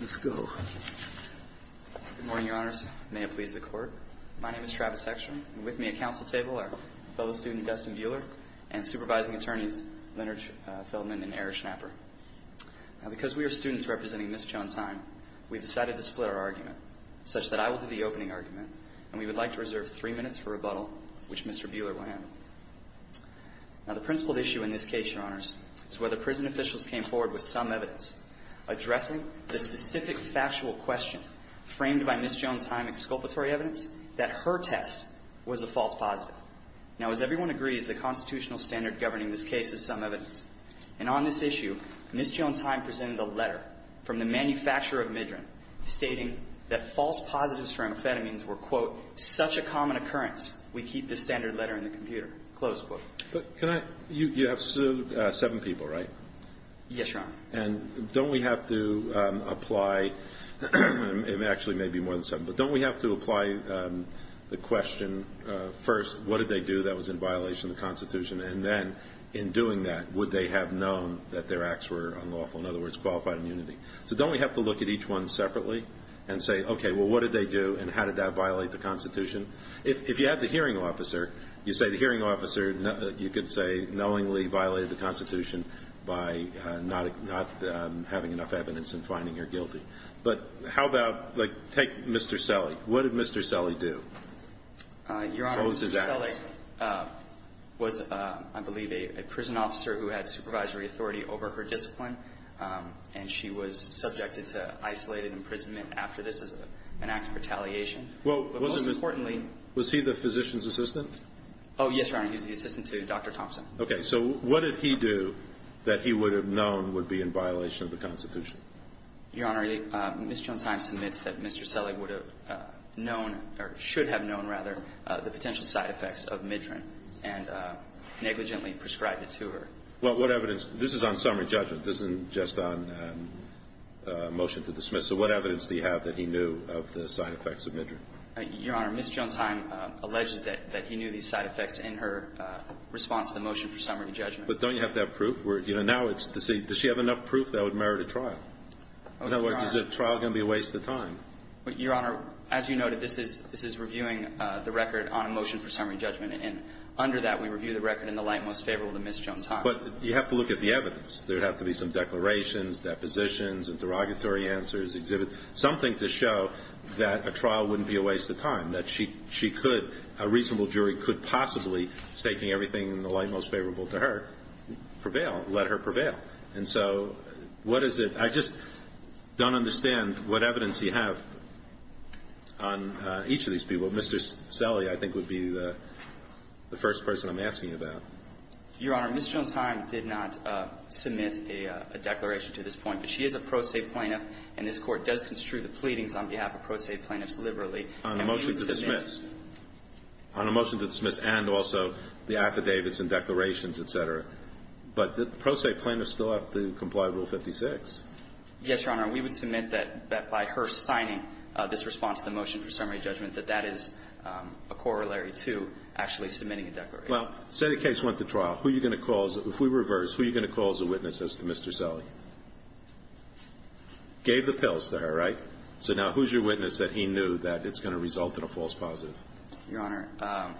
Let's go. Good morning, Your Honors. May it please the Court. My name is Travis Hexner, and with me at council table are fellow student Dustin Buehler and supervising attorneys Leonard Feldman and Eric Schnapper. Now, because we are students representing Ms. Jones-Heim, we've decided to split our argument, such that I will do the opening argument, and we would like to reserve three minutes for rebuttal, which Mr. Buehler will handle. Now, the principled issue in this case, Your Honors, is whether prison officials came forward with some evidence addressing the specific factual question framed by Ms. Jones-Heim exculpatory evidence that her test was a false positive. Now, as everyone agrees, the constitutional standard governing this case is some evidence. And on this issue, Ms. Jones-Heim presented a letter from the manufacturer of Midran stating that false positives for amphetamines were, quote, such a common occurrence, we keep the standard letter in the computer, close quote. But can I – you have sued seven people, right? Yes, Your Honor. And don't we have to apply – it actually may be more than seven, but don't we have to apply the question first, what did they do that was in violation of the Constitution, and then in doing that, would they have known that their acts were unlawful, in other words, qualified immunity? So don't we have to look at each one separately and say, okay, well, what did they do, and how did that violate the Constitution? If you had the hearing officer, you say the hearing officer, you could say knowingly violated the Constitution by not having enough evidence and finding her guilty. But how about, like, take Mr. Selle. What did Mr. Selle do? Your Honor, Mr. Selle was, I believe, a prison officer who had supervisory authority over her discipline, and she was subjected to isolated imprisonment after this as an act of retaliation. But most importantly – Was he the physician's assistant? Oh, yes, Your Honor. He was the assistant to Dr. Thompson. Okay. So what did he do that he would have known would be in violation of the Constitution? Your Honor, Ms. Jonsheim submits that Mr. Selle would have known, or should have known, rather, the potential side effects of Midran and negligently prescribed it to her. Well, what evidence – this is on summary judgment. This isn't just on motion to dismiss. So what evidence do you have that he knew of the side effects of Midran? Your Honor, Ms. Jonsheim alleges that he knew these side effects in her response to the motion for summary judgment. But don't you have to have proof? Does she have enough proof that would merit a trial? In other words, is a trial going to be a waste of time? Your Honor, as you noted, this is reviewing the record on a motion for summary judgment. And under that, we review the record in the light most favorable to Ms. Jonsheim. But you have to look at the evidence. There would have to be some declarations, depositions, and derogatory answers exhibited, something to show that a trial wouldn't be a waste of time, that she could – a reasonable jury could possibly, taking everything in the light most favorable to her, prevail, let her prevail. And so what is it – I just don't understand what evidence you have on each of these people. Mr. Selle, I think, would be the first person I'm asking about. Your Honor, Ms. Jonsheim did not submit a declaration to this point. But she is a pro se plaintiff, and this Court does construe the pleadings on behalf of pro se plaintiffs liberally. On a motion to dismiss. On a motion to dismiss and also the affidavits and declarations, et cetera. But the pro se plaintiffs still have to comply with Rule 56. Yes, Your Honor. We would submit that by her signing this response to the motion for summary judgment, that that is a corollary to actually submitting a declaration. Well, say the case went to trial. Who are you going to call? If we reverse, who are you going to call as a witness as to Mr. Selle? Gave the pills to her, right? So now who's your witness that he knew that it's going to result in a false positive? Your Honor,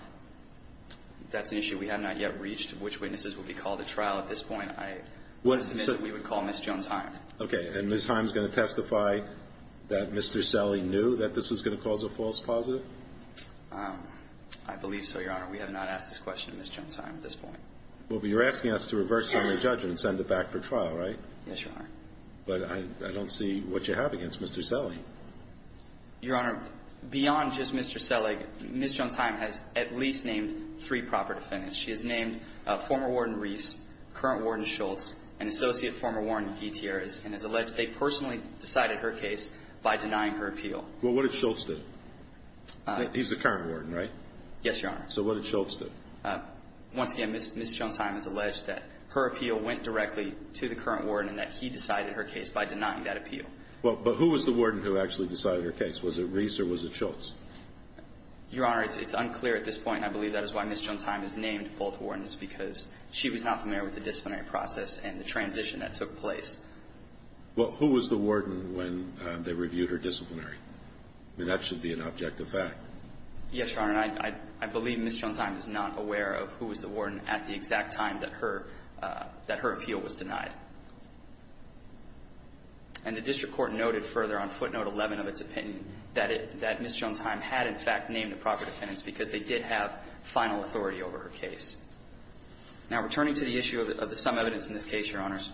that's an issue we have not yet reached, which witnesses would be called at trial at this point. I would submit that we would call Ms. Jonsheim. Okay. And Ms. Jonsheim is going to testify that Mr. Selle knew that this was going to cause a false positive? I believe so, Your Honor. We have not asked this question of Ms. Jonsheim at this point. Well, but you're asking us to reverse summary judgment and send it back for trial, right? Yes, Your Honor. But I don't see what you have against Mr. Selle. Your Honor, beyond just Mr. Selle, Ms. Jonsheim has at least named three proper defendants. She has named former warden Reese, current warden Schultz, and associate former warden Gutierrez, and has alleged they personally decided her case by denying her appeal. Well, what did Schultz do? He's the current warden, right? Yes, Your Honor. So what did Schultz do? Once again, Ms. Jonsheim has alleged that her appeal went directly to the current warden and that he decided her case by denying that appeal. Well, but who was the warden who actually decided her case? Was it Reese or was it Schultz? Your Honor, it's unclear at this point. I believe that is why Ms. Jonsheim has named both wardens, because she was not familiar with the disciplinary process and the transition that took place. Well, who was the warden when they reviewed her disciplinary? I mean, that should be an objective fact. Yes, Your Honor. I believe Ms. Jonsheim is not aware of who was the warden at the exact time that her appeal was denied. And the district court noted further on footnote 11 of its opinion that Ms. Jonsheim had, in fact, named the proper defendants because they did have final authority over her case. Now, returning to the issue of the sum evidence in this case, Your Honors,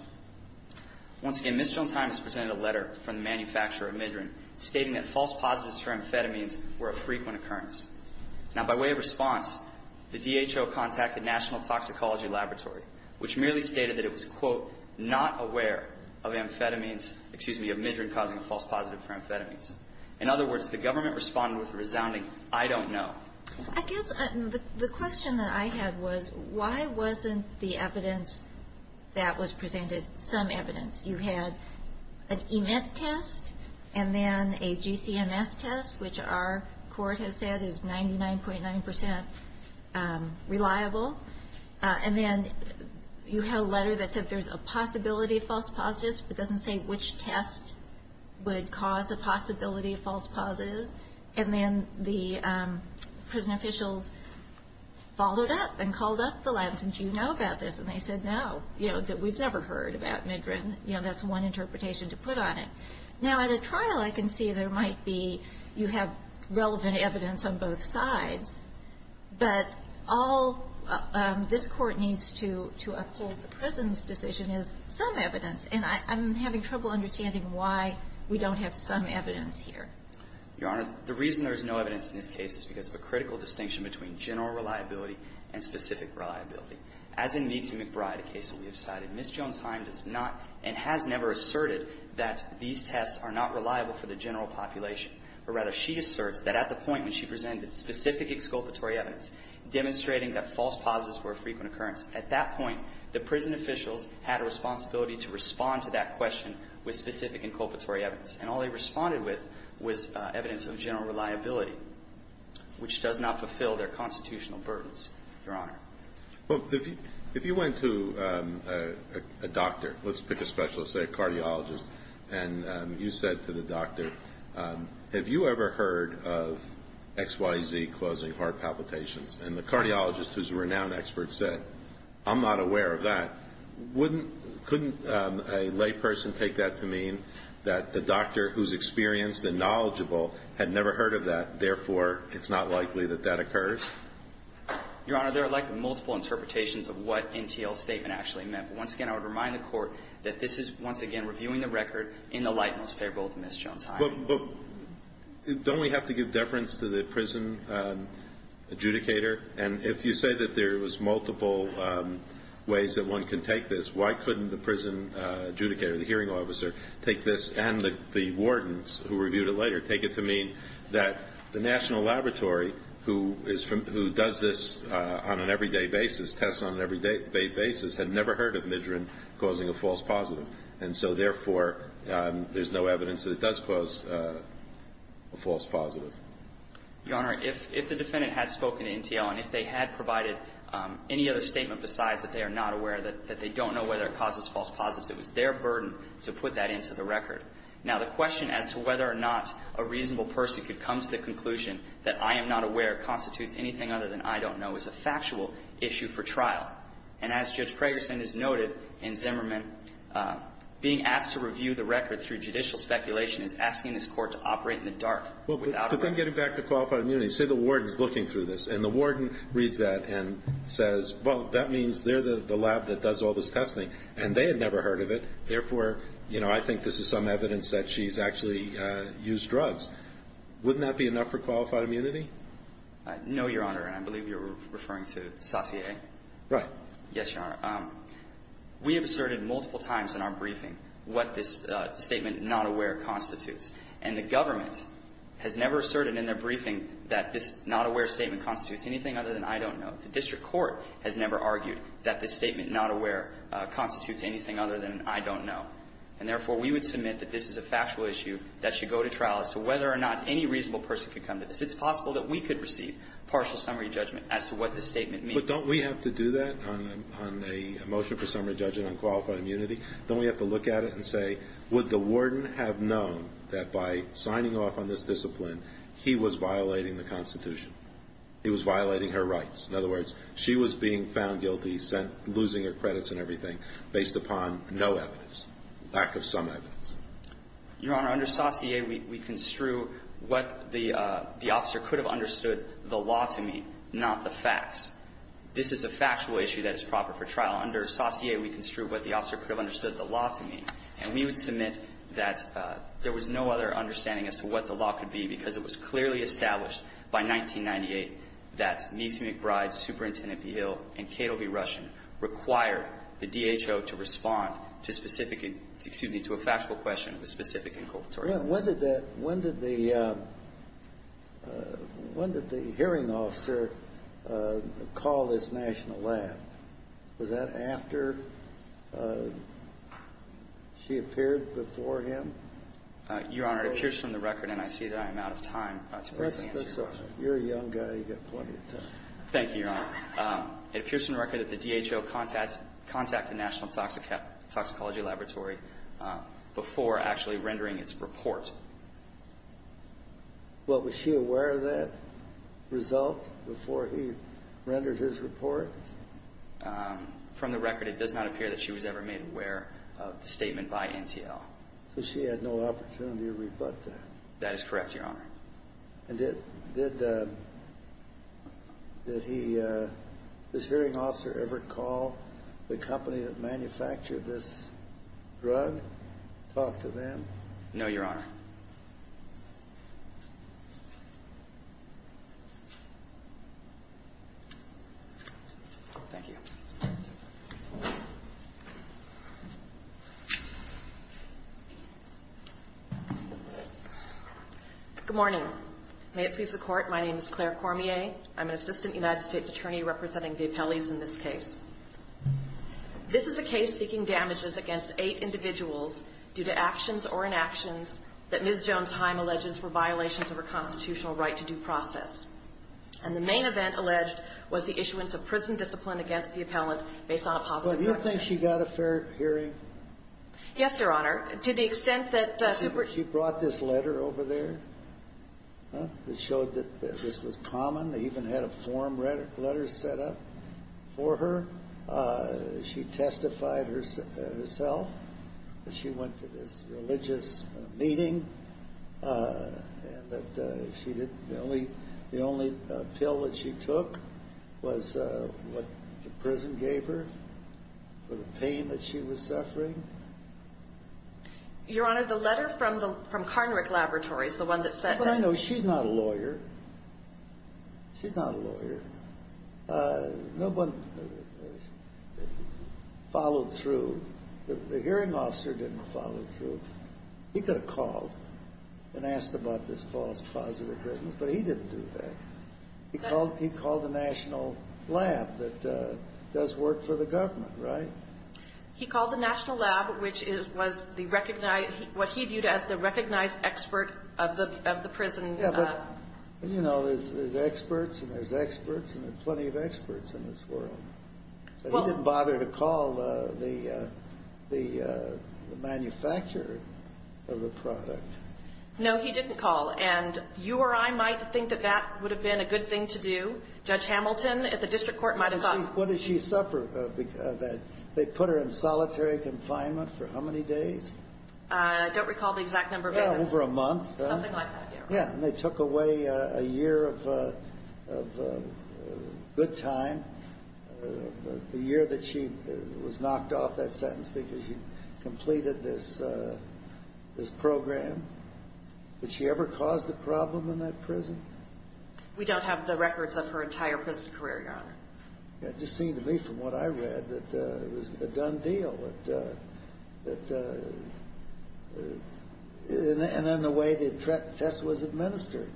once again, Ms. Jonsheim has presented a letter from the manufacturer of Midran stating that false positives for amphetamines were a frequent occurrence. Now, by way of response, the DHO contacted National Toxicology Laboratory, which merely stated that it was, quote, not aware of amphetamines, excuse me, of Midran causing a false positive for amphetamines. In other words, the government responded with a resounding, I don't know. I guess the question that I had was, why wasn't the evidence that was presented some evidence? You had an EMET test and then a GCMS test, which our court has said is 99.9% reliable. And then you have a letter that said there's a possibility of false positives, but doesn't say which test would cause a possibility of false positives. And then the prison officials followed up and called up the labs and said, no, you know, that we've never heard about Midran. You know, that's one interpretation to put on it. Now, at a trial, I can see there might be you have relevant evidence on both sides, but all this Court needs to uphold the prison's decision is some evidence. And I'm having trouble understanding why we don't have some evidence here. Your Honor, the reason there's no evidence in this case is because of a critical distinction between general reliability and specific reliability. As in Meese and McBride, a case that we have cited, Ms. Jones-Heim does not and has never asserted that these tests are not reliable for the general population. Or rather, she asserts that at the point when she presented specific exculpatory evidence demonstrating that false positives were a frequent occurrence, at that point, the prison officials had a responsibility to respond to that question with specific inculpatory evidence. And all they responded with was evidence of general reliability, which does not fulfill their constitutional burdens, Your Honor. Well, if you went to a doctor, let's pick a specialist, say a cardiologist, and you said to the doctor, have you ever heard of XYZ causing heart palpitations? And the cardiologist, who's a renowned expert, said, I'm not aware of that. Couldn't a layperson take that to mean that the doctor who's experienced and knowledgeable had never heard of that, therefore, it's not likely that that occurs? Your Honor, there are likely multiple interpretations of what NTL's statement actually meant. But once again, I would remind the Court that this is, once again, reviewing the record in the light most favorable to Ms. Jones-Heim. But don't we have to give deference to the prison adjudicator? And if you say that there was multiple ways that one can take this, why couldn't the prison adjudicator, the hearing officer, take this and the wardens who reviewed it later, take it to mean that the national laboratory who does this on an everyday basis, tests on an everyday basis, had never heard of Midrin causing a false positive. And so, therefore, there's no evidence that it does cause a false positive. Your Honor, if the defendant had spoken to NTL and if they had provided any other statement besides that they are not aware, that they don't know whether it causes false positives, it was their burden to put that into the record. Now, the question as to whether or not a reasonable person could come to the conclusion that I am not aware constitutes anything other than I don't know is a factual issue for trial. And as Judge Pragerson has noted in Zimmerman, being asked to review the record through judicial speculation is asking this Court to operate in the dark without a reason. Well, but then getting back to qualified immunity, say the warden's looking through this. And the warden reads that and says, well, that means they're the lab that does all this testing. And they had never heard of it. Therefore, you know, I think this is some evidence that she's actually used drugs. Wouldn't that be enough for qualified immunity? No, Your Honor. And I believe you're referring to Satie? Right. Yes, Your Honor. We have asserted multiple times in our briefing what this statement, not aware, constitutes. And the government has never asserted in their briefing that this not aware statement constitutes anything other than I don't know. The district court has never argued that this statement, not aware, constitutes anything other than I don't know. And therefore, we would submit that this is a factual issue that should go to trial as to whether or not any reasonable person could come to this. It's possible that we could receive partial summary judgment as to what this statement means. But don't we have to do that on a motion for summary judgment on qualified immunity? Don't we have to look at it and say, would the warden have known that by signing off on this discipline, he was violating the Constitution? He was violating her rights. In other words, she was being found guilty, losing her credits and everything based upon no evidence, lack of some evidence. Your Honor, under Saussure, we construe what the officer could have understood the law to mean, not the facts. This is a factual issue that is proper for trial. Under Saussure, we construe what the officer could have understood the law to mean. And we would submit that there was no other understanding as to what the law could be because it was clearly established by 1998 that Mies McBride, Superintendent of the Hill, and Cato B. Rushin required the DHO to respond to specific excuse me, to a factual question with specific inculpatory evidence. When did the hearing officer call this national lab? Was that after she appeared before him? Your Honor, it appears from the record, and I see that I am out of time to answer your question. You're a young guy. You've got plenty of time. Thank you, Your Honor. It appears from the record that the DHO contacted National Toxicology Laboratory before actually rendering its report. Well, was she aware of that result before he rendered his report? From the record, it does not appear that she was ever made aware of the statement by NTL. So she had no opportunity to rebut that? That is correct, Your Honor. And did this hearing officer ever call the company that manufactured this drug, talk to them? No, Your Honor. Thank you. Good morning. May it please the Court, my name is Claire Cormier. I'm an assistant United States attorney representing the appellees in this case. This is a case seeking damages against eight individuals due to actions or inactions that Ms. Jones-Heim alleges were violations of her constitutional right to due process. And the main event alleged was the issuance of prison discipline against these individuals Well, do you think she got a fair hearing? Yes, Your Honor. To the extent that the super- She brought this letter over there that showed that this was common. They even had a form letter set up for her. She testified herself that she went to this religious meeting and that the only pill that she took was what the prison gave her for the pain that she was suffering. Your Honor, the letter from Karnrick Laboratories, the one that sent that- But I know she's not a lawyer. She's not a lawyer. No one followed through. The hearing officer didn't follow through. He could have called and asked about this false positive witness, but he didn't do that. He called the national lab that does work for the government, right? He called the national lab, which was what he viewed as the recognized expert of the prison. Yeah, but, you know, there's experts and there's experts, and there are plenty of experts in this world. He didn't bother to call the manufacturer of the product. No, he didn't call, and you or I might think that that would have been a good thing to do. Judge Hamilton at the district court might have called. What did she suffer? They put her in solitary confinement for how many days? I don't recall the exact number. Yeah, over a month. Something like that, yeah. Yeah, and they took away a year of good time, the year that she was knocked off that sentence because she completed this program. Did she ever cause a problem in that prison? We don't have the records of her entire prison career, Your Honor. It just seemed to me from what I read that it was a done deal. And then the way the test was administered,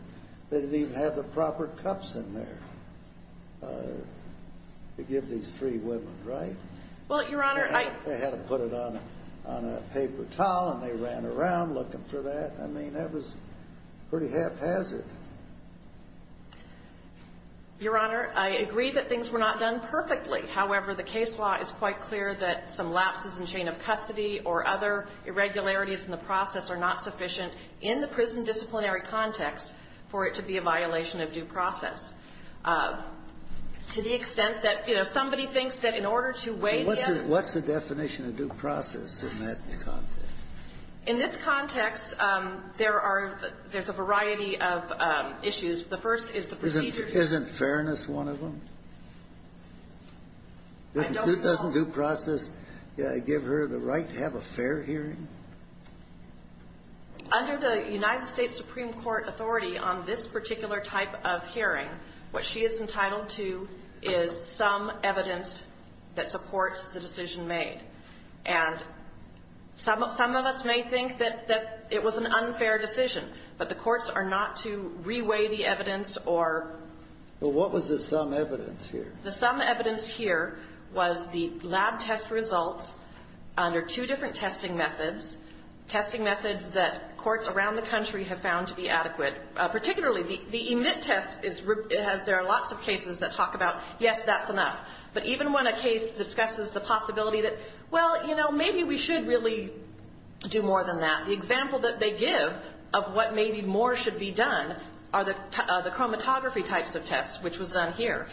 they didn't even have the proper cups in there to give these three women, right? Well, Your Honor, I — They had to put it on a paper towel, and they ran around looking for that. I mean, that was pretty haphazard. Your Honor, I agree that things were not done perfectly. However, the case law is quite clear that some lapses in chain of custody or other irregularities in the process are not sufficient in the prison disciplinary context for it to be a violation of due process. To the extent that, you know, somebody thinks that in order to weigh in — What's the definition of due process in that context? In this context, there are — there's a variety of issues. The first is the procedure. Isn't fairness one of them? I don't know. Doesn't due process give her the right to have a fair hearing? Under the United States Supreme Court authority on this particular type of hearing, what she is entitled to is some evidence that supports the decision made. And some of us may think that it was an unfair decision, but the courts are not to reweigh the evidence or — But what was the sum evidence here? The sum evidence here was the lab test results under two different testing methods, testing methods that courts around the country have found to be adequate. Particularly, the EMIT test is — there are lots of cases that talk about, yes, that's But even when a case discusses the possibility that, well, you know, maybe we should really do more than that, the example that they give of what maybe more should be done are the chromatography types of tests, which was done here.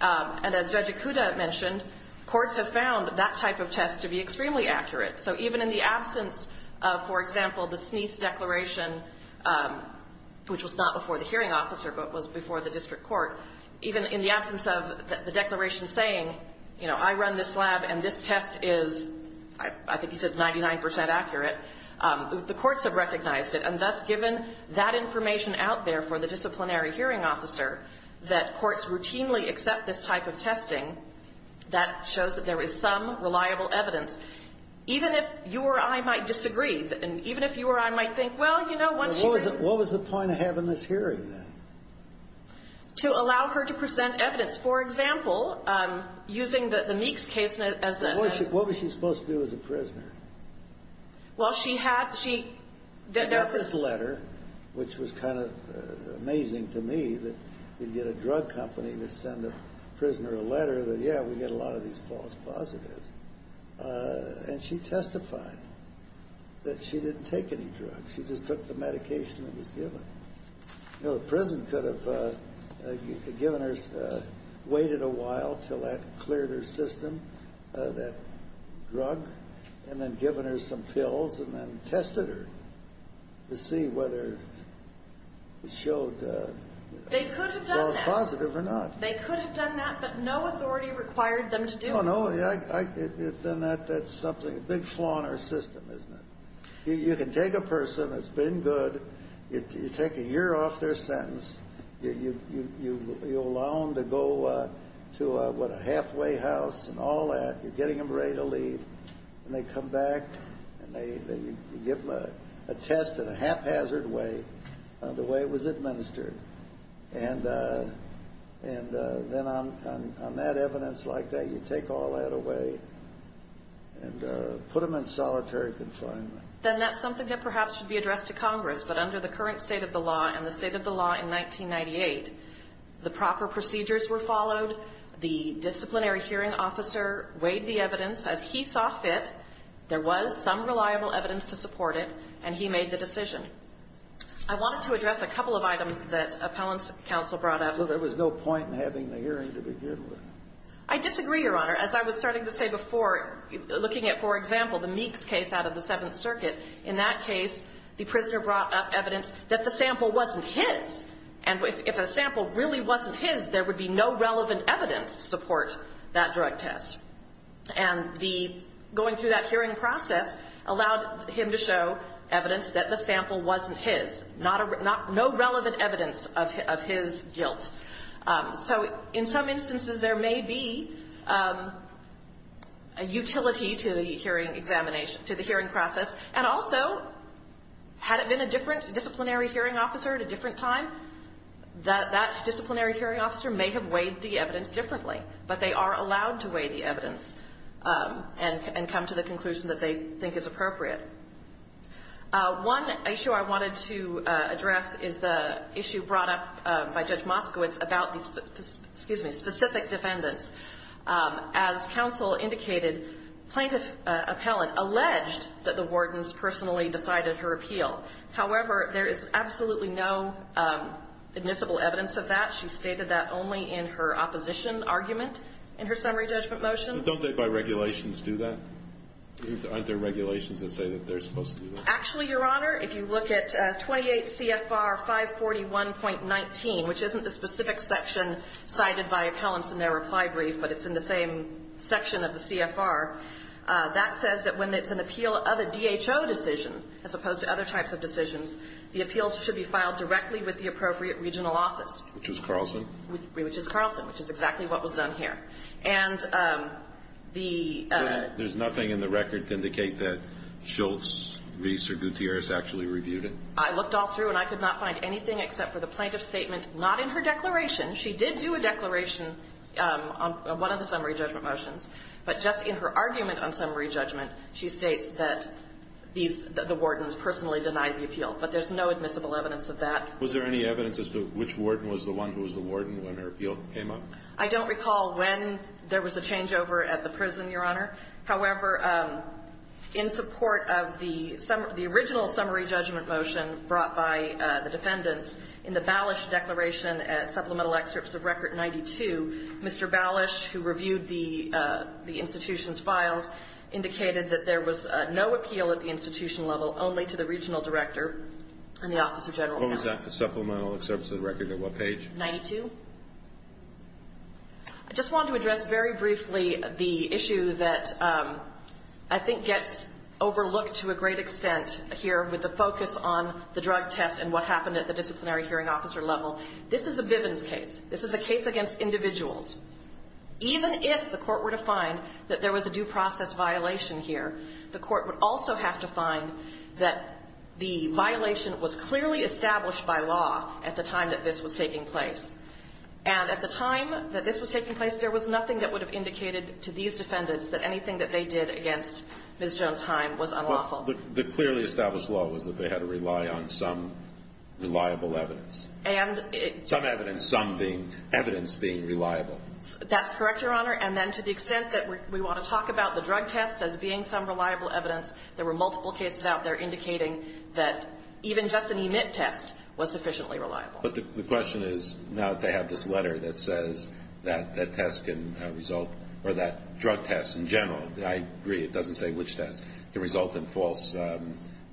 And as Judge Ikuda mentioned, courts have found that type of test to be extremely accurate. So even in the absence of, for example, the Sneeth Declaration, which was not before the hearing officer but was before the district court, even in the absence of the declaration saying, you know, I run this lab and this test is, I think he said, 99 percent accurate, the courts have recognized it. And thus, given that information out there for the disciplinary hearing officer, that courts routinely accept this type of testing, that shows that there is some reliable evidence. Even if you or I might disagree, and even if you or I might think, well, you know, once you — What was the point of having this hearing, then? To allow her to present evidence. For example, using the Meeks case as a — Well, what was she supposed to do as a prisoner? Well, she had — she — I got this letter, which was kind of amazing to me, that you'd get a drug company to send a prisoner a letter that, yeah, we get a lot of these false positives. And she testified that she didn't take any drugs. She just took the medication that was given. You know, the prison could have given her — waited a while until that cleared her system, that drug, and then given her some pills and then tested her to see whether it showed false positive or not. They could have done that. They could have done that, but no authority required them to do it. Oh, no. Then that's something — a big flaw in our system, isn't it? You can take a person that's been good. You take a year off their sentence. You allow them to go to, what, a halfway house and all that. You're getting them ready to leave. And they come back, and you give them a test in a haphazard way, the way it was administered. And then on that evidence like that, you take all that away and put them in solitary confinement. Then that's something that perhaps should be addressed to Congress. But under the current state of the law and the state of the law in 1998, the proper procedures were followed. The disciplinary hearing officer weighed the evidence. As he saw fit, there was some reliable evidence to support it, and he made the decision. I wanted to address a couple of items that appellants counsel brought up. Well, there was no point in having the hearing to begin with. I disagree, Your Honor. As I was starting to say before, looking at, for example, the Meeks case out of the Seventh Circuit, in that case, the prisoner brought up evidence that the sample wasn't his. And if the sample really wasn't his, there would be no relevant evidence to support that drug test. And going through that hearing process allowed him to show evidence that the sample wasn't his. No relevant evidence of his guilt. So in some instances, there may be a utility to the hearing examination, to the hearing process. And also, had it been a different disciplinary hearing officer at a different time, that disciplinary hearing officer may have weighed the evidence differently. But they are allowed to weigh the evidence and come to the conclusion that they think is appropriate. One issue I wanted to address is the issue brought up by Judge Moskowitz about these specific defendants. As counsel indicated, plaintiff appellant alleged that the wardens personally decided her appeal. However, there is absolutely no admissible evidence of that. She stated that only in her opposition argument in her summary judgment motion. Don't they, by regulations, do that? Aren't there regulations that say that they're supposed to do that? Actually, Your Honor, if you look at 28 CFR 541.19, which isn't the specific section cited by appellants in their reply brief, but it's in the same section of the CFR, that says that when it's an appeal of a DHO decision, as opposed to other types of decisions, the appeals should be filed directly with the appropriate regional office. Which is Carlson? Which is Carlson, which is exactly what was done here. And the ---- There's nothing in the record to indicate that Schultz, Reese, or Gutierrez actually reviewed it? I looked all through, and I could not find anything except for the plaintiff's statement, not in her declaration. She did do a declaration on one of the summary judgment motions. But just in her argument on summary judgment, she states that these the wardens personally denied the appeal. But there's no admissible evidence of that. Was there any evidence as to which warden was the one who was the warden when her appeal came up? I don't recall when there was a changeover at the prison, Your Honor. However, in support of the summary ---- the original summary judgment motion brought by the defendants, in the Balish declaration at supplemental excerpts of Record 92, Mr. Balish, who reviewed the institution's files, indicated that there was no appeal at the institution level, only to the regional director and the office of general counsel. What was that, the supplemental excerpts of the record? At what page? 92. I just wanted to address very briefly the issue that I think gets overlooked to a great extent here with the focus on the drug test and what happened at the disciplinary hearing officer level. This is a Bivens case. This is a case against individuals. Even if the Court were to find that there was a due process violation here, the Court would also have to find that the violation was clearly established by law at the time that this was taking place. And at the time that this was taking place, there was nothing that would have indicated to these defendants that anything that they did against Ms. Jones-Heim was unlawful. The clearly established law was that they had to rely on some reliable evidence. And it ---- That's correct, Your Honor. And then to the extent that we want to talk about the drug test as being some reliable evidence, there were multiple cases out there indicating that even just an EMIT test was sufficiently reliable. But the question is, now that they have this letter that says that that test can result or that drug test in general, I agree, it doesn't say which test, can result in false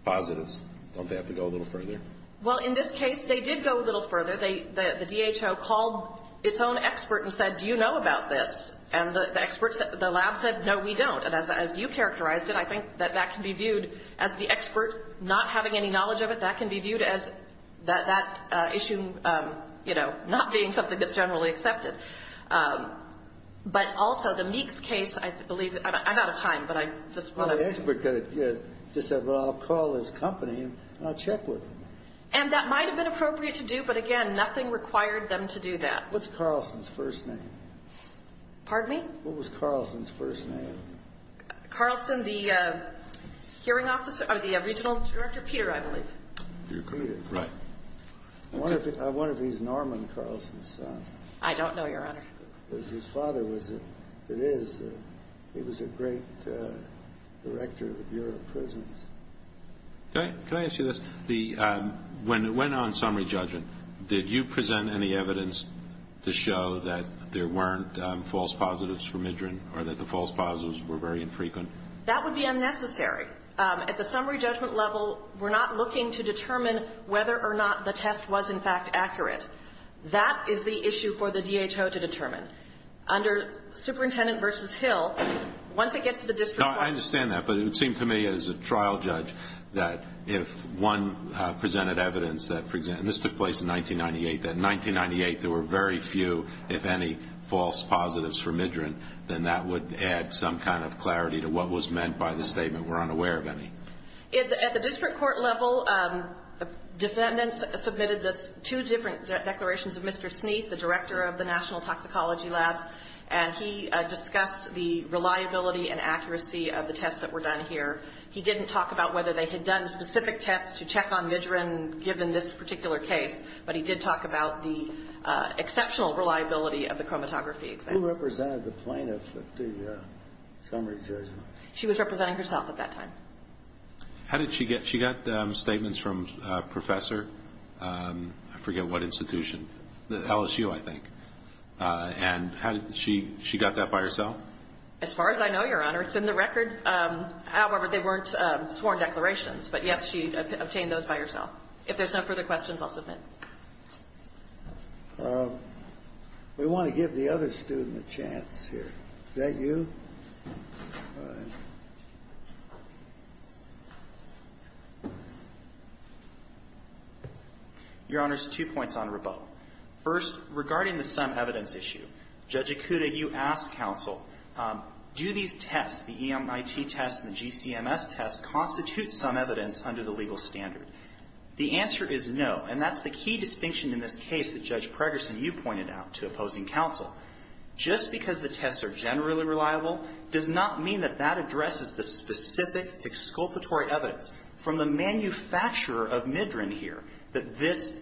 positives, don't they have to go a little further? Well, in this case, they did go a little further. They ---- the DHO called its own expert and said, do you know about this? And the experts at the lab said, no, we don't. And as you characterized it, I think that that can be viewed as the expert not having any knowledge of it. That can be viewed as that issue, you know, not being something that's generally accepted. But also, the Meeks case, I believe ---- I'm out of time, but I just want to ---- Well, the expert could have just said, well, I'll call this company and I'll check with them. And that might have been appropriate to do, but again, nothing required them to do that. What's Carlson's first name? Pardon me? What was Carlson's first name? Carlson, the hearing officer or the regional director? Peter, I believe. Peter. Right. I wonder if he's Norman Carlson's son. I don't know, Your Honor. Because his father was a ---- he was a great director of the Bureau of Prisons. Can I ask you this? When it went on summary judgment, did you present any evidence to show that there weren't false positives for Midran or that the false positives were very infrequent? That would be unnecessary. At the summary judgment level, we're not looking to determine whether or not the test was, in fact, accurate. That is the issue for the DHO to determine. Under Superintendent v. Hill, once it gets to the district court ---- No, I understand that, but it would seem to me as a trial judge that if one presented evidence that, for example, and this took place in 1998, that in 1998 there were very few, if any, false positives for Midran, then that would add some kind of clarity to what was meant by the statement, we're unaware of any. At the district court level, defendants submitted two different declarations of Mr. Sneath, the director of the National Toxicology Labs, and he discussed the reliability and accuracy of the tests that were done here. He didn't talk about whether they had done specific tests to check on Midran given this particular case, but he did talk about the exceptional reliability of the chromatography exams. Who represented the plaintiff at the summary judgment? She was representing herself at that time. How did she get ---- she got statements from a professor, I forget what institution, the LSU, I think, and how did she ---- she got that by herself? As far as I know, Your Honor, it's in the record. However, they weren't sworn declarations. But, yes, she obtained those by herself. If there's no further questions, I'll submit. We want to give the other student a chance here. Is that you? Go ahead. Your Honors, two points on Rabot. First, regarding the sum evidence issue, Judge Ikuda, you asked counsel, do these tests, the EMIT tests and the GCMS tests, constitute sum evidence under the legal standard? The answer is no, and that's the key distinction in this case that Judge The fact that Ms. Jones-Heim is in the middle does not mean that that addresses the specific exculpatory evidence from the manufacturer of Midran here, that this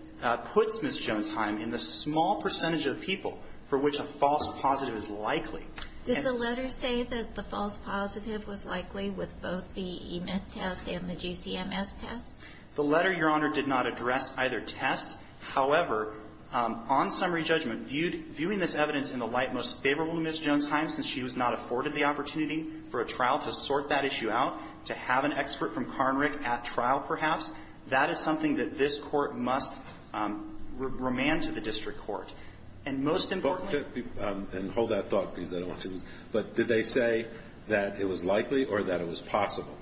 puts Ms. Jones-Heim in the small percentage of people for which a false positive is likely. Did the letter say that the false positive was likely with both the EMIT test and the GCMS test? The letter, Your Honor, did not address either test. However, on summary judgment, viewing this evidence in the light most favorable to Ms. Jones-Heim, since she was not afforded the opportunity for a trial to sort that issue out, to have an expert from Karnrick at trial, perhaps, that is something that this Court must remand to the district court. And most importantly — Hold that thought, please. I don't want to lose it. But did they say that it was likely or that it was possible?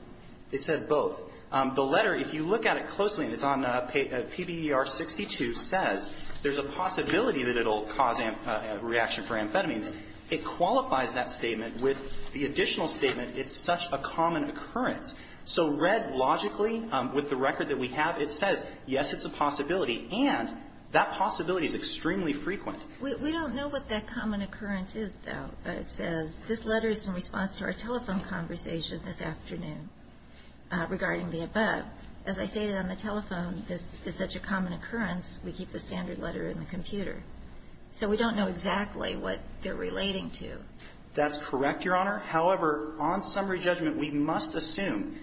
They said both. The letter, if you look at it closely, and it's on PBER 62, says there's a possibility that it will cause a reaction for amphetamines. It qualifies that statement with the additional statement, it's such a common occurrence. So read logically, with the record that we have, it says, yes, it's a possibility, and that possibility is extremely frequent. We don't know what that common occurrence is, though. It says, this letter is in response to our telephone conversation this afternoon regarding the above. As I say on the telephone, it's such a common occurrence, we keep the standard letter in the computer. So we don't know exactly what they're relating to. That's correct, Your Honor. However, on summary judgment, we must assume,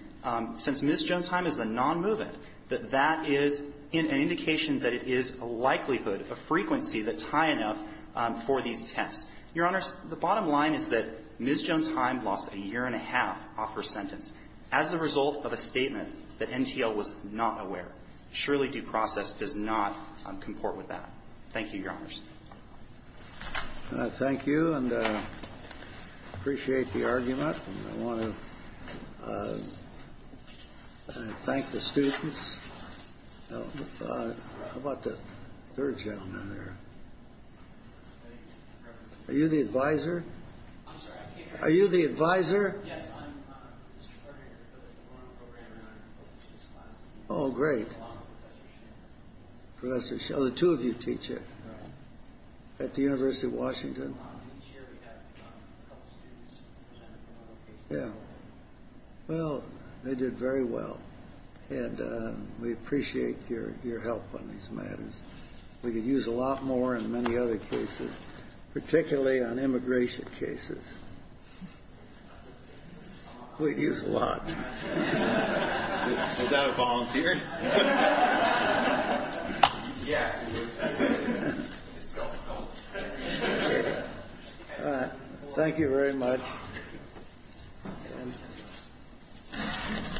since Ms. Jones-Heim is the nonmovement, that that is an indication that it is a likelihood, a frequency that's high enough for these tests. Your Honor, the bottom line is that offer sentence. As a result of a statement that NTL was not aware, surely due process does not comport with that. Thank you, Your Honors. Thank you, and I appreciate the argument, and I want to thank the students. How about the third gentleman there? Are you the advisor? I'm sorry. Are you the advisor? Yes, I'm the advisor for the program. Oh, great. Professor, so the two of you teach at the University of Washington. Each year we have a couple of students. Yeah. Well, they did very well, and we appreciate your help on these matters. We could use a lot more in many other cases, particularly on immigration cases. We use a lot. Is that a volunteer? Yes. Thank you very much.